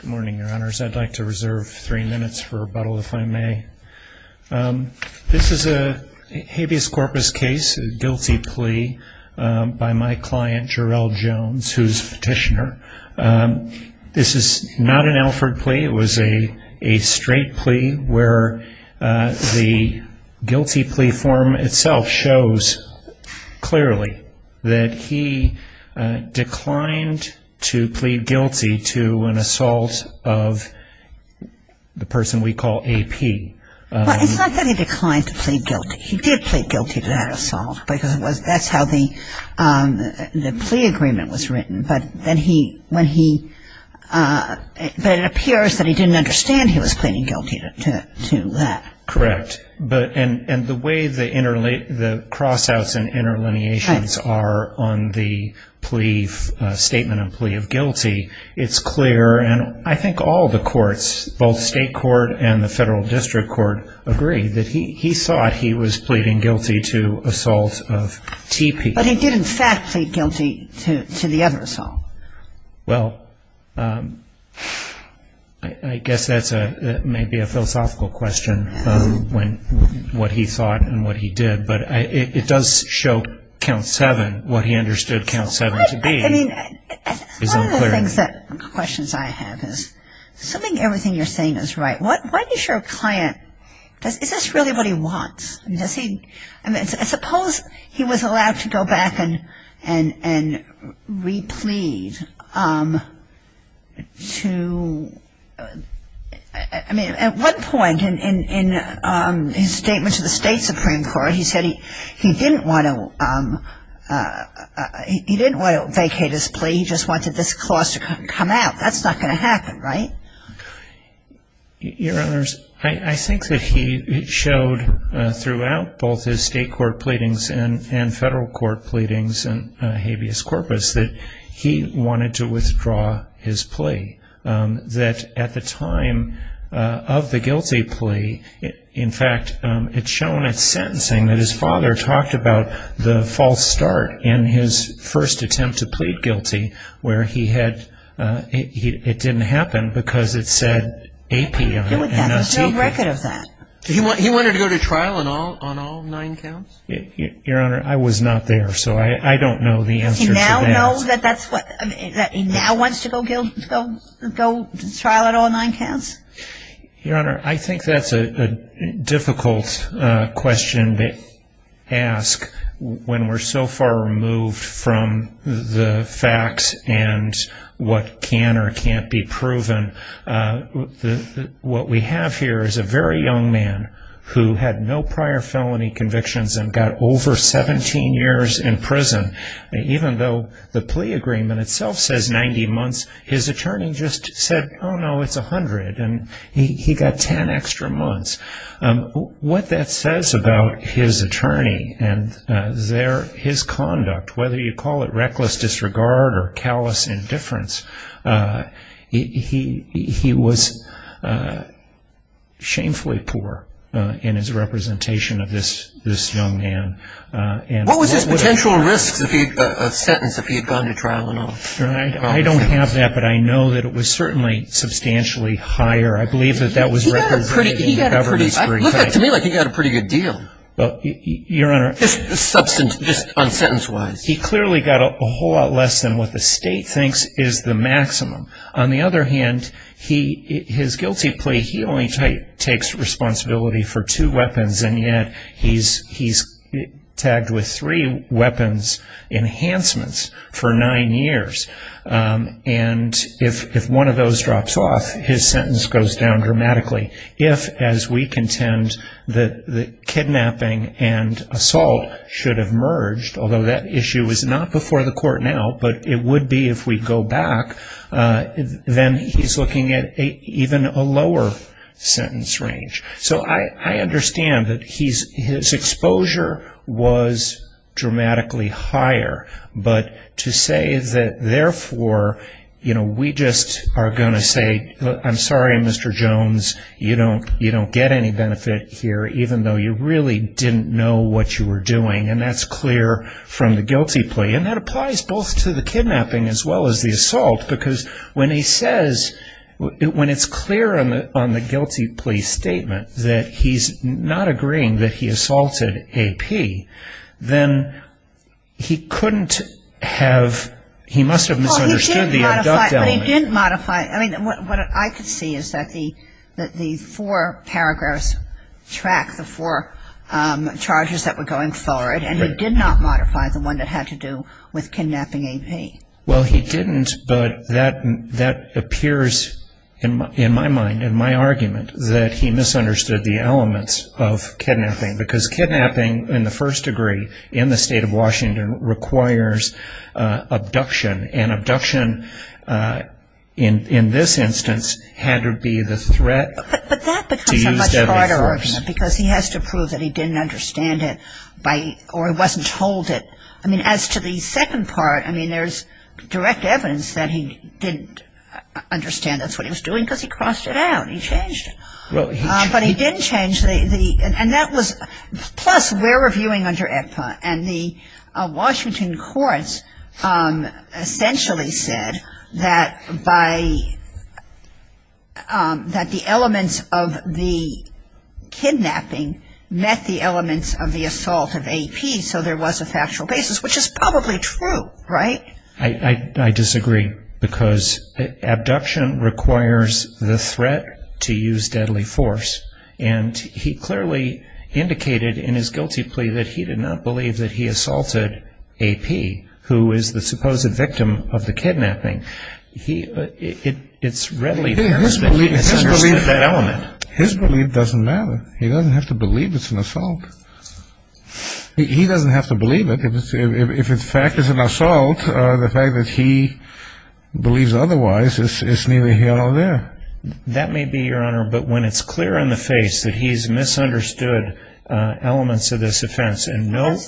Good morning, Your Honors. I'd like to reserve three minutes for rebuttal, if I may. This is a habeas corpus case, a guilty plea by my client, Jerrel Jones, who is a petitioner. This is not an Alford plea. It was a straight plea where the guilty plea form itself shows clearly that he declined to plead guilty to an assault of the person we call AP. Well, it's not that he declined to plead guilty. He did plead guilty to that assault because that's how the plea agreement was written. But it appears that he didn't understand he was pleading guilty to that. Correct. And the way the crossouts and interlineations are on the plea, statement of plea of guilty, it's clear. And I think all the courts, both state court and the federal district court, agree that he thought he was pleading guilty to assault of TP. But he did, in fact, plead guilty to the other assault. Well, I guess that's maybe a philosophical question, what he thought and what he did. But it does show Count 7, what he understood Count 7 to be, is unclear. One of the questions I have is, assuming everything you're saying is right, why does your client, is this really what he wants? I mean, suppose he was allowed to go back and replead to ‑‑ I mean, at one point in his statement to the state supreme court, he said he didn't want to vacate his plea. He just wanted this clause to come out. That's not going to happen, right? Your Honors, I think that he showed throughout both his state court pleadings and federal court pleadings in habeas corpus that he wanted to withdraw his plea. That at the time of the guilty plea, in fact, it's shown at sentencing that his father talked about the false start in his first attempt to plead guilty, where it didn't happen because it said AP on it. There's no record of that. He wanted to go to trial on all nine counts? Your Honor, I was not there, so I don't know the answer to that. Does he now know that he now wants to go to trial on all nine counts? Your Honor, I think that's a difficult question to ask when we're so far removed from the facts and what can or can't be proven. What we have here is a very young man who had no prior felony convictions and got over 17 years in prison. Even though the plea agreement itself says 90 months, his attorney just said, oh, no, it's 100, and he got 10 extra months. What that says about his attorney and his conduct, whether you call it reckless disregard or callous indifference, he was shamefully poor in his representation of this young man. What was his potential risk of sentence if he had gone to trial and all? I don't have that, but I know that it was certainly substantially higher. He got a pretty good deal. Just on sentence-wise. He clearly got a whole lot less than what the state thinks is the maximum. On the other hand, his guilty plea, he only takes responsibility for two weapons, and yet he's tagged with three weapons enhancements for nine years. And if one of those drops off, his sentence goes down dramatically. If, as we contend, the kidnapping and assault should have merged, although that issue is not before the court now, but it would be if we go back, then he's looking at even a lower sentence range. So I understand that his exposure was dramatically higher, but to say that, therefore, we just are going to say, I'm sorry, Mr. Jones, you don't get any benefit here, even though you really didn't know what you were doing, and that's clear from the guilty plea. And that applies both to the kidnapping as well as the assault, because when he says, when it's clear on the guilty plea statement that he's not agreeing that he assaulted A.P., then he couldn't have, he must have misunderstood the abduct element. Well, he did modify, but he didn't modify, I mean, what I could see is that the four paragraphs track the four charges that were going forward, and he did not modify the one that had to do with A.P. Well, he didn't, but that appears, in my mind, in my argument, that he misunderstood the elements of kidnapping, because kidnapping, in the first degree, in the state of Washington, requires abduction, and abduction in this instance had to be the threat to use deadly force. But that becomes a much harder argument, because he has to prove that he didn't understand it, or he wasn't told it. I mean, as to the second part, I mean, there's direct evidence that he didn't understand that's what he was doing, because he crossed it out, he changed it. But he didn't change the, and that was, plus, we're reviewing under EPA, and the Washington courts essentially said that by, that the elements of the kidnapping met the elements of the assault of A.P., so there was a factual basis. Which is probably true, right? If the fact is an assault, the fact that he believes otherwise is neither here nor there. That may be, Your Honor, but when it's clear in the face that he's misunderstood elements of this offense,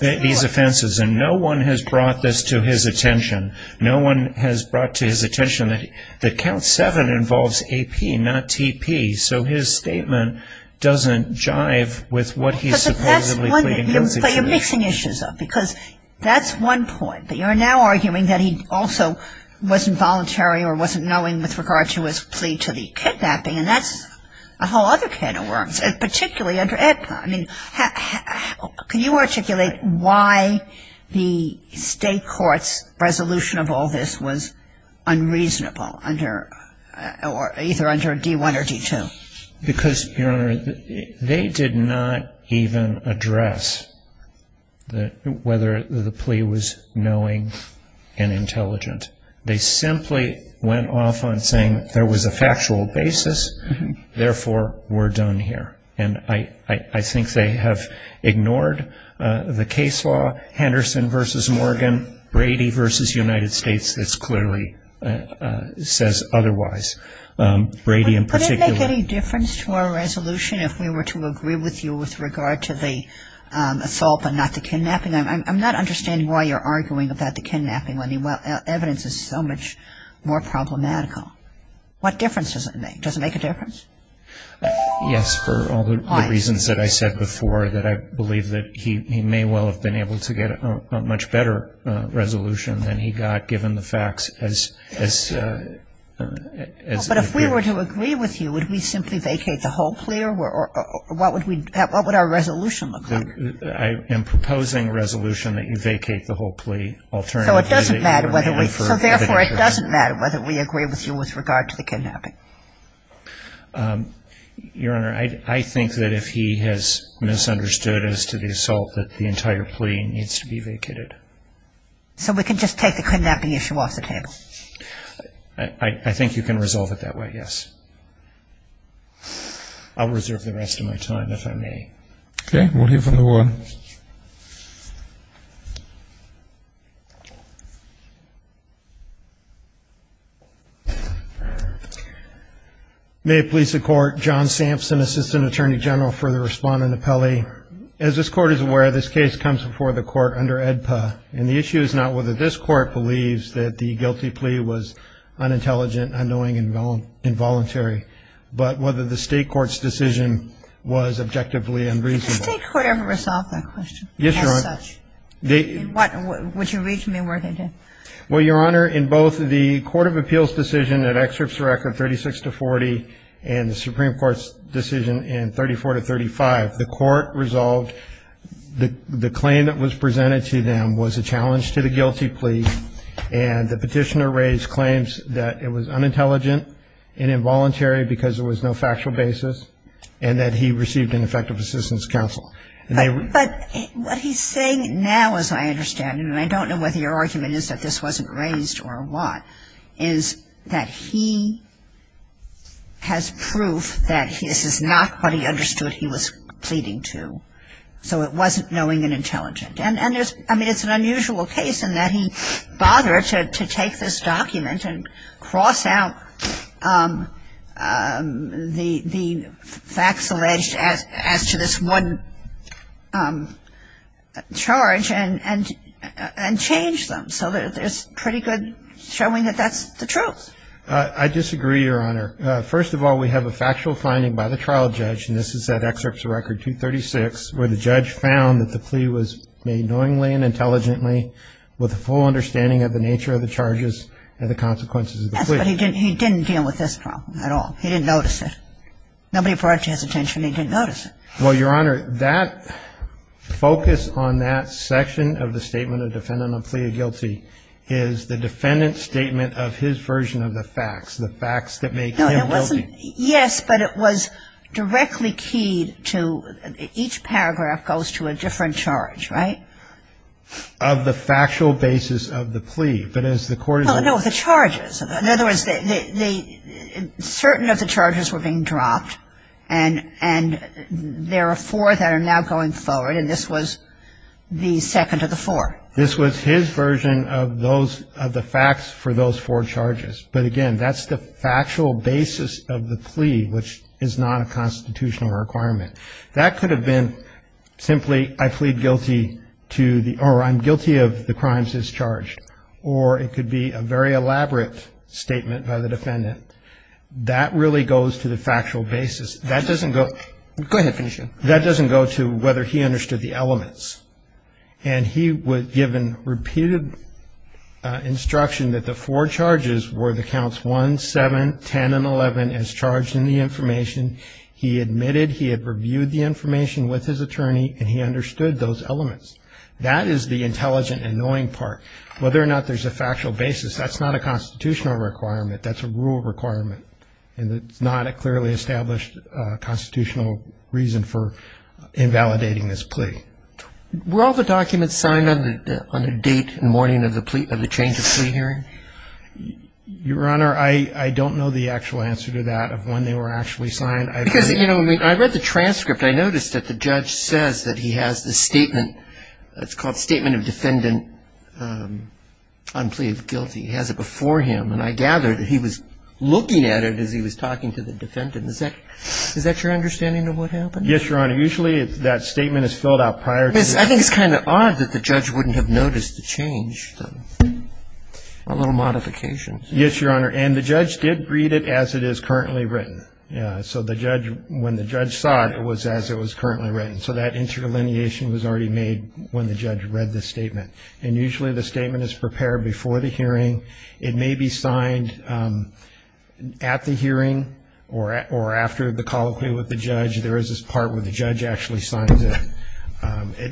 these offenses, and no one has brought this to his attention, no one has brought to his attention that Count 7 involves A.P., not T.P., so his statement doesn't jive with what he's supposedly claiming. But you're mixing issues up, because that's one point, but you're now arguing that he also wasn't voluntary or wasn't knowing with regard to his plea to the kidnapping, and that's a whole other can of worms, particularly under EPA. I mean, can you articulate why the state court's resolution of all this was unreasonable under, or either under D.I. or D.II.? Because, Your Honor, they did not even address whether the plea was knowing and intelligent. They simply went off on saying there was a factual basis, therefore we're done here, and I think they have ignored the case law, Henderson v. Morgan, Brady v. United States, that clearly says otherwise. Could it make any difference to our resolution if we were to agree with you with regard to the assault, but not the kidnapping? I'm not understanding why you're arguing about the kidnapping when the evidence is so much more problematical. What difference does it make? Does it make a difference? Yes, for all the reasons that I said before, that I believe that he may well have been able to get a much better resolution than he got, given the facts as they are. Well, but if we were to agree with you, would we simply vacate the whole plea, or what would our resolution look like? I am proposing a resolution that you vacate the whole plea alternatively. So it doesn't matter whether we, so therefore it doesn't matter whether we agree with you with regard to the kidnapping? Your Honor, I think that if he has misunderstood as to the assault, that the entire plea needs to be vacated. So we can just take the kidnapping issue off the table? I think you can resolve it that way, yes. I'll reserve the rest of my time, if I may. Okay, we'll hear from the warden. May it please the Court, John Sampson, Assistant Attorney General for the Respondent Appellee. Your Honor, as this Court is aware, this case comes before the Court under AEDPA, and the issue is not whether this Court believes that the guilty plea was unintelligent, unknowing, and involuntary, but whether the State Court's decision was objectively unreasonable. Did the State Court ever resolve that question? Yes, Your Honor. As such? Would you read to me where they did? Well, Your Honor, in both the Court of Appeals decision at Excerpts of Record 36 to 40, and the Supreme Court's decision in 34 to 35, the Court resolved the claim that was presented to them was a challenge to the guilty plea, and the petitioner raised claims that it was unintelligent and involuntary because there was no factual basis, and that he received ineffective assistance counsel. But what he's saying now, as I understand it, and I don't know whether your argument is that this wasn't raised or what, is that he has proof that this is not what he understood he was pleading to, so it wasn't knowing and intelligent. And there's – I mean, it's an unusual case in that he bothered to take this document and cross out the facts alleged as to this one charge and change them. So there's pretty good showing that that's the truth. I disagree, Your Honor. First of all, we have a factual finding by the trial judge, and this is at Excerpts of Record 236, where the judge found that the plea was made knowingly and intelligently with a full understanding of the nature of the charges and the consequences of the plea. Yes, but he didn't deal with this problem at all. He didn't notice it. Nobody brought it to his attention. He didn't notice it. Well, Your Honor, that focus on that section of the statement of defendant on plea of guilty is the defendant's statement of his version of the facts, the facts that make him guilty. No, it wasn't – yes, but it was directly keyed to – each paragraph goes to a different charge, right? Of the factual basis of the plea, but as the court is – Well, no, the charges. In other words, certain of the charges were being dropped, and there are four that are now going forward, and this was the second of the four. This was his version of those – of the facts for those four charges. But, again, that's the factual basis of the plea, which is not a constitutional requirement. That could have been simply I plead guilty to the – or I'm guilty of the crimes as charged, or it could be a very elaborate statement by the defendant. That really goes to the factual basis. That doesn't go – Go ahead, finish it. That doesn't go to whether he understood the elements, and he was given repeated instruction that the four charges were the counts 1, 7, 10, and 11 as charged in the information. He admitted he had reviewed the information with his attorney, and he understood those elements. That is the intelligent and knowing part. Whether or not there's a factual basis, that's not a constitutional requirement. That's a rule requirement, and it's not a clearly established constitutional reason for invalidating this plea. Were all the documents signed on the date and morning of the change of plea hearing? Your Honor, I don't know the actual answer to that of when they were actually signed. Because, you know, I read the transcript. I noticed that the judge says that he has the statement. It's called Statement of Defendant Unpleaved Guilty. It has it before him, and I gather that he was looking at it as he was talking to the defendant. Is that your understanding of what happened? Yes, Your Honor. Usually that statement is filled out prior to that. I think it's kind of odd that the judge wouldn't have noticed the change, a little modification. Yes, Your Honor, and the judge did read it as it is currently written. Yes, so when the judge saw it, it was as it was currently written. So that interlineation was already made when the judge read the statement. And usually the statement is prepared before the hearing. It may be signed at the hearing or after the colloquy with the judge. There is this part where the judge actually signs it.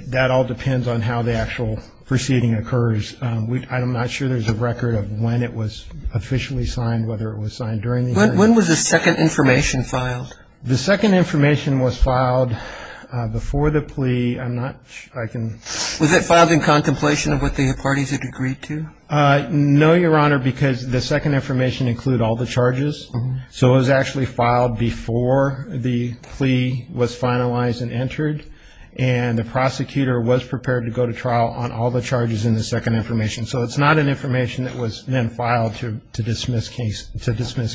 That all depends on how the actual proceeding occurs. I'm not sure there's a record of when it was officially signed, whether it was signed during the hearing. When was the second information filed? The second information was filed before the plea. I'm not sure I can. Was it filed in contemplation of what the parties had agreed to? No, Your Honor, because the second information included all the charges. So it was actually filed before the plea was finalized and entered, and the prosecutor was prepared to go to trial on all the charges in the second information. So it's not an information that was then filed to dismiss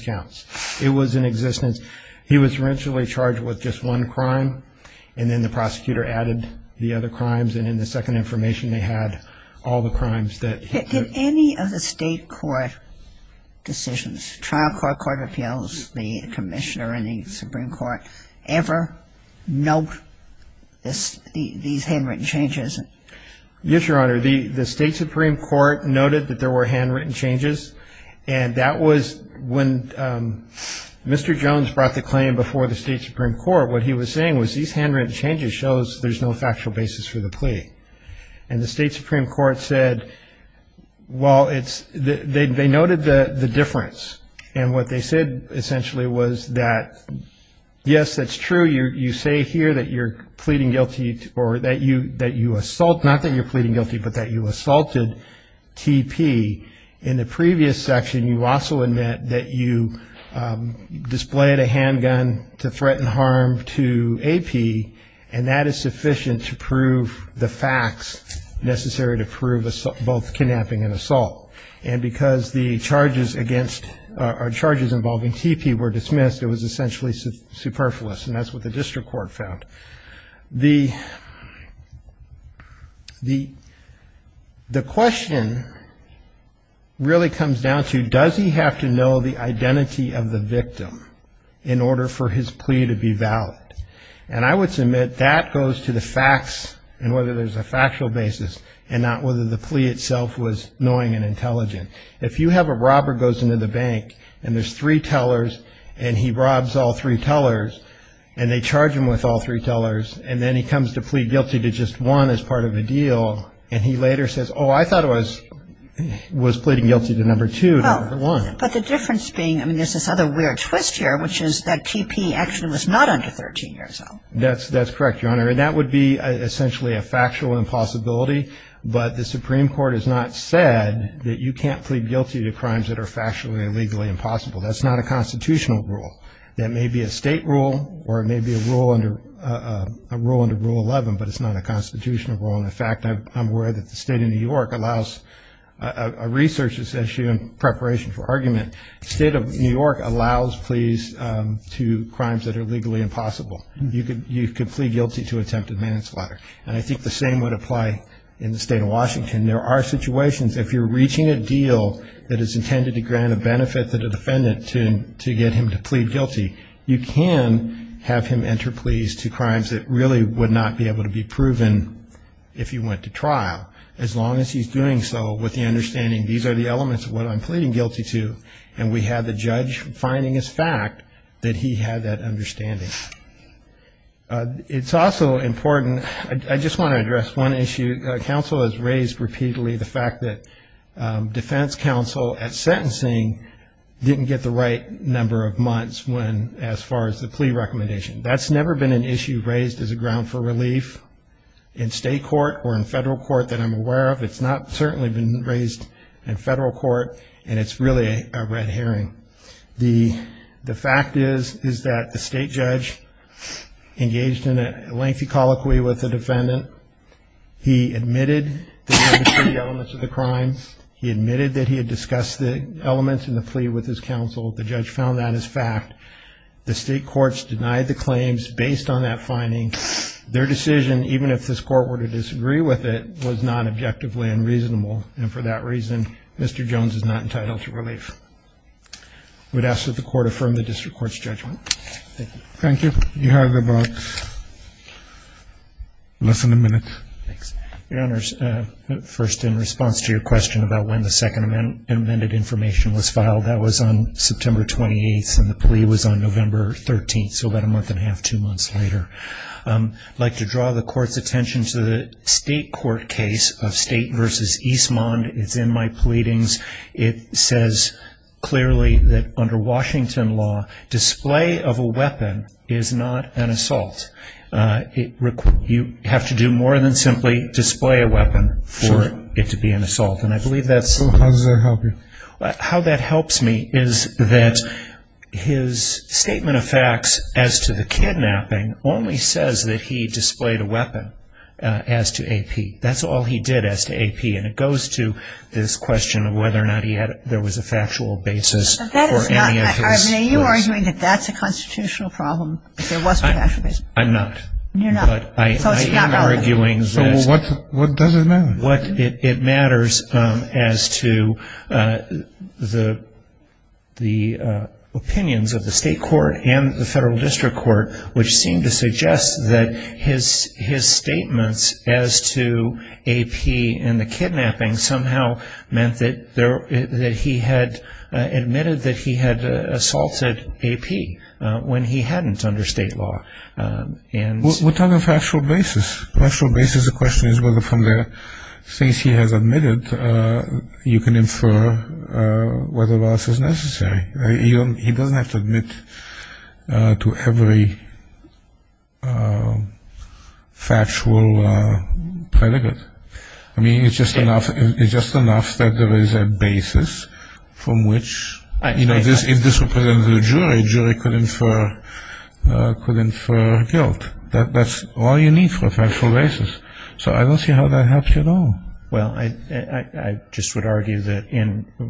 counts. It was in existence. He was originally charged with just one crime, and then the prosecutor added the other crimes, and in the second information they had all the crimes that he had. Did any of the state court decisions, trial court, court of appeals, the commissioner, and the Supreme Court ever note these handwritten changes? Yes, Your Honor. The state Supreme Court noted that there were handwritten changes, and that was when Mr. Jones brought the claim before the state Supreme Court. What he was saying was these handwritten changes shows there's no factual basis for the plea. And the state Supreme Court said, well, it's they noted the difference, and what they said essentially was that, yes, that's true. You say here that you're pleading guilty or that you assault, not that you're pleading guilty, but that you assaulted T.P. In the previous section you also admit that you displayed a handgun to threaten harm to A.P., and that is sufficient to prove the facts necessary to prove both kidnapping and assault. And because the charges against or charges involving T.P. were dismissed, it was essentially superfluous, and that's what the district court found. The question really comes down to does he have to know the identity of the victim in order for his plea to be valid? And I would submit that goes to the facts and whether there's a factual basis and not whether the plea itself was annoying and intelligent. If you have a robber goes into the bank and there's three tellers and he robs all three tellers and they charge him with all three tellers and then he comes to plead guilty to just one as part of a deal and he later says, oh, I thought it was pleading guilty to number two, not number one. But the difference being, I mean, there's this other weird twist here, which is that T.P. actually was not under 13 years old. That's correct, Your Honor, and that would be essentially a factual impossibility, but the Supreme Court has not said that you can't plead guilty to crimes that are factually or legally impossible. That's not a constitutional rule. That may be a state rule or it may be a rule under Rule 11, but it's not a constitutional rule. And, in fact, I'm worried that the state of New York allows a research issue in preparation for argument. The state of New York allows pleas to crimes that are legally impossible. You could plead guilty to attempted manslaughter. And I think the same would apply in the state of Washington. There are situations, if you're reaching a deal that is intended to grant a benefit to the defendant to get him to plead guilty, you can have him enter pleas to crimes that really would not be able to be proven if he went to trial, as long as he's doing so with the understanding these are the elements of what I'm pleading guilty to and we have the judge finding as fact that he had that understanding. It's also important, I just want to address one issue. Counsel has raised repeatedly the fact that defense counsel at sentencing didn't get the right number of months as far as the plea recommendation. That's never been an issue raised as a ground for relief in state court or in federal court that I'm aware of. It's not certainly been raised in federal court, and it's really a red herring. The fact is that the state judge engaged in a lengthy colloquy with the defendant. He admitted that he understood the elements of the crime. He admitted that he had discussed the elements in the plea with his counsel. The judge found that as fact. The state courts denied the claims based on that finding. Their decision, even if this court were to disagree with it, was not objectively unreasonable, and for that reason, Mr. Jones is not entitled to relief. I would ask that the court affirm the district court's judgment. Thank you. You have about less than a minute. Thanks. Your Honors, first in response to your question about when the second amended information was filed, that was on September 28th and the plea was on November 13th, so about a month and a half, two months later. I'd like to draw the court's attention to the state court case of State v. Eastmond. It's in my pleadings. It says clearly that under Washington law, display of a weapon is not an assault. You have to do more than simply display a weapon for it to be an assault, and I believe that's... How does that help you? That's all he did as to AP, and it goes to this question of whether or not there was a factual basis for any of his... But that is not... Are you arguing that that's a constitutional problem, that there was no factual basis? I'm not. You're not. So it's not relevant. So what does it matter? It matters as to the opinions of the state court and the federal district court, which seem to suggest that his statements as to AP and the kidnapping somehow meant that he had admitted that he had assaulted AP when he hadn't under state law. We're talking factual basis. Factual basis of the question is whether from the things he has admitted, you can infer whether or not this is necessary. He doesn't have to admit to every factual predicate. I mean, it's just enough that there is a basis from which, you know, if this were presented to a jury, a jury could infer guilt. That's all you need for a factual basis. So I don't see how that helps you at all. Well, I just would argue that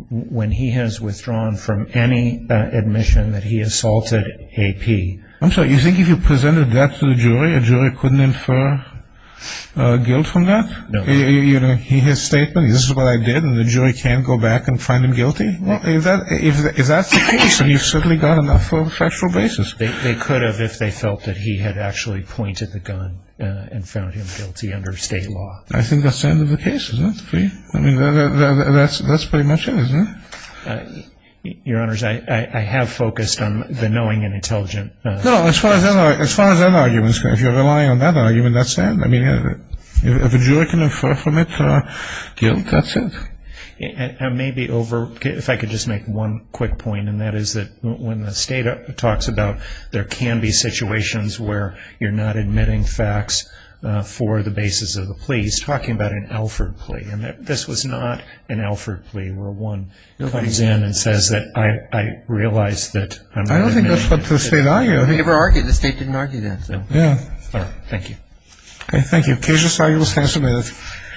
when he has withdrawn from any admission that he assaulted AP... I'm sorry. You think if you presented that to the jury, a jury couldn't infer guilt from that? No. His statement, this is what I did, and the jury can't go back and find him guilty? If that's the case, then you've certainly got enough for a factual basis. They could have if they felt that he had actually pointed the gun and found him guilty under state law. I think that's the end of the case, isn't it? I mean, that's pretty much it, isn't it? Your Honors, I have focused on the knowing and intelligent. No, as far as that argument is concerned, if you're relying on that argument, that's it. I mean, if a jury can infer from it guilt, that's it. I may be over. If I could just make one quick point, and that is that when the State talks about there can be situations where you're not admitting facts for the basis of the plea, he's talking about an Alford plea. And this was not an Alford plea where one comes in and says that I realize that I'm not admitting. I don't think that's what the State argued. They never argued. The State didn't argue that. Yeah. All right. Thank you. Okay. Thank you. Thank you. Thank you. Thank you.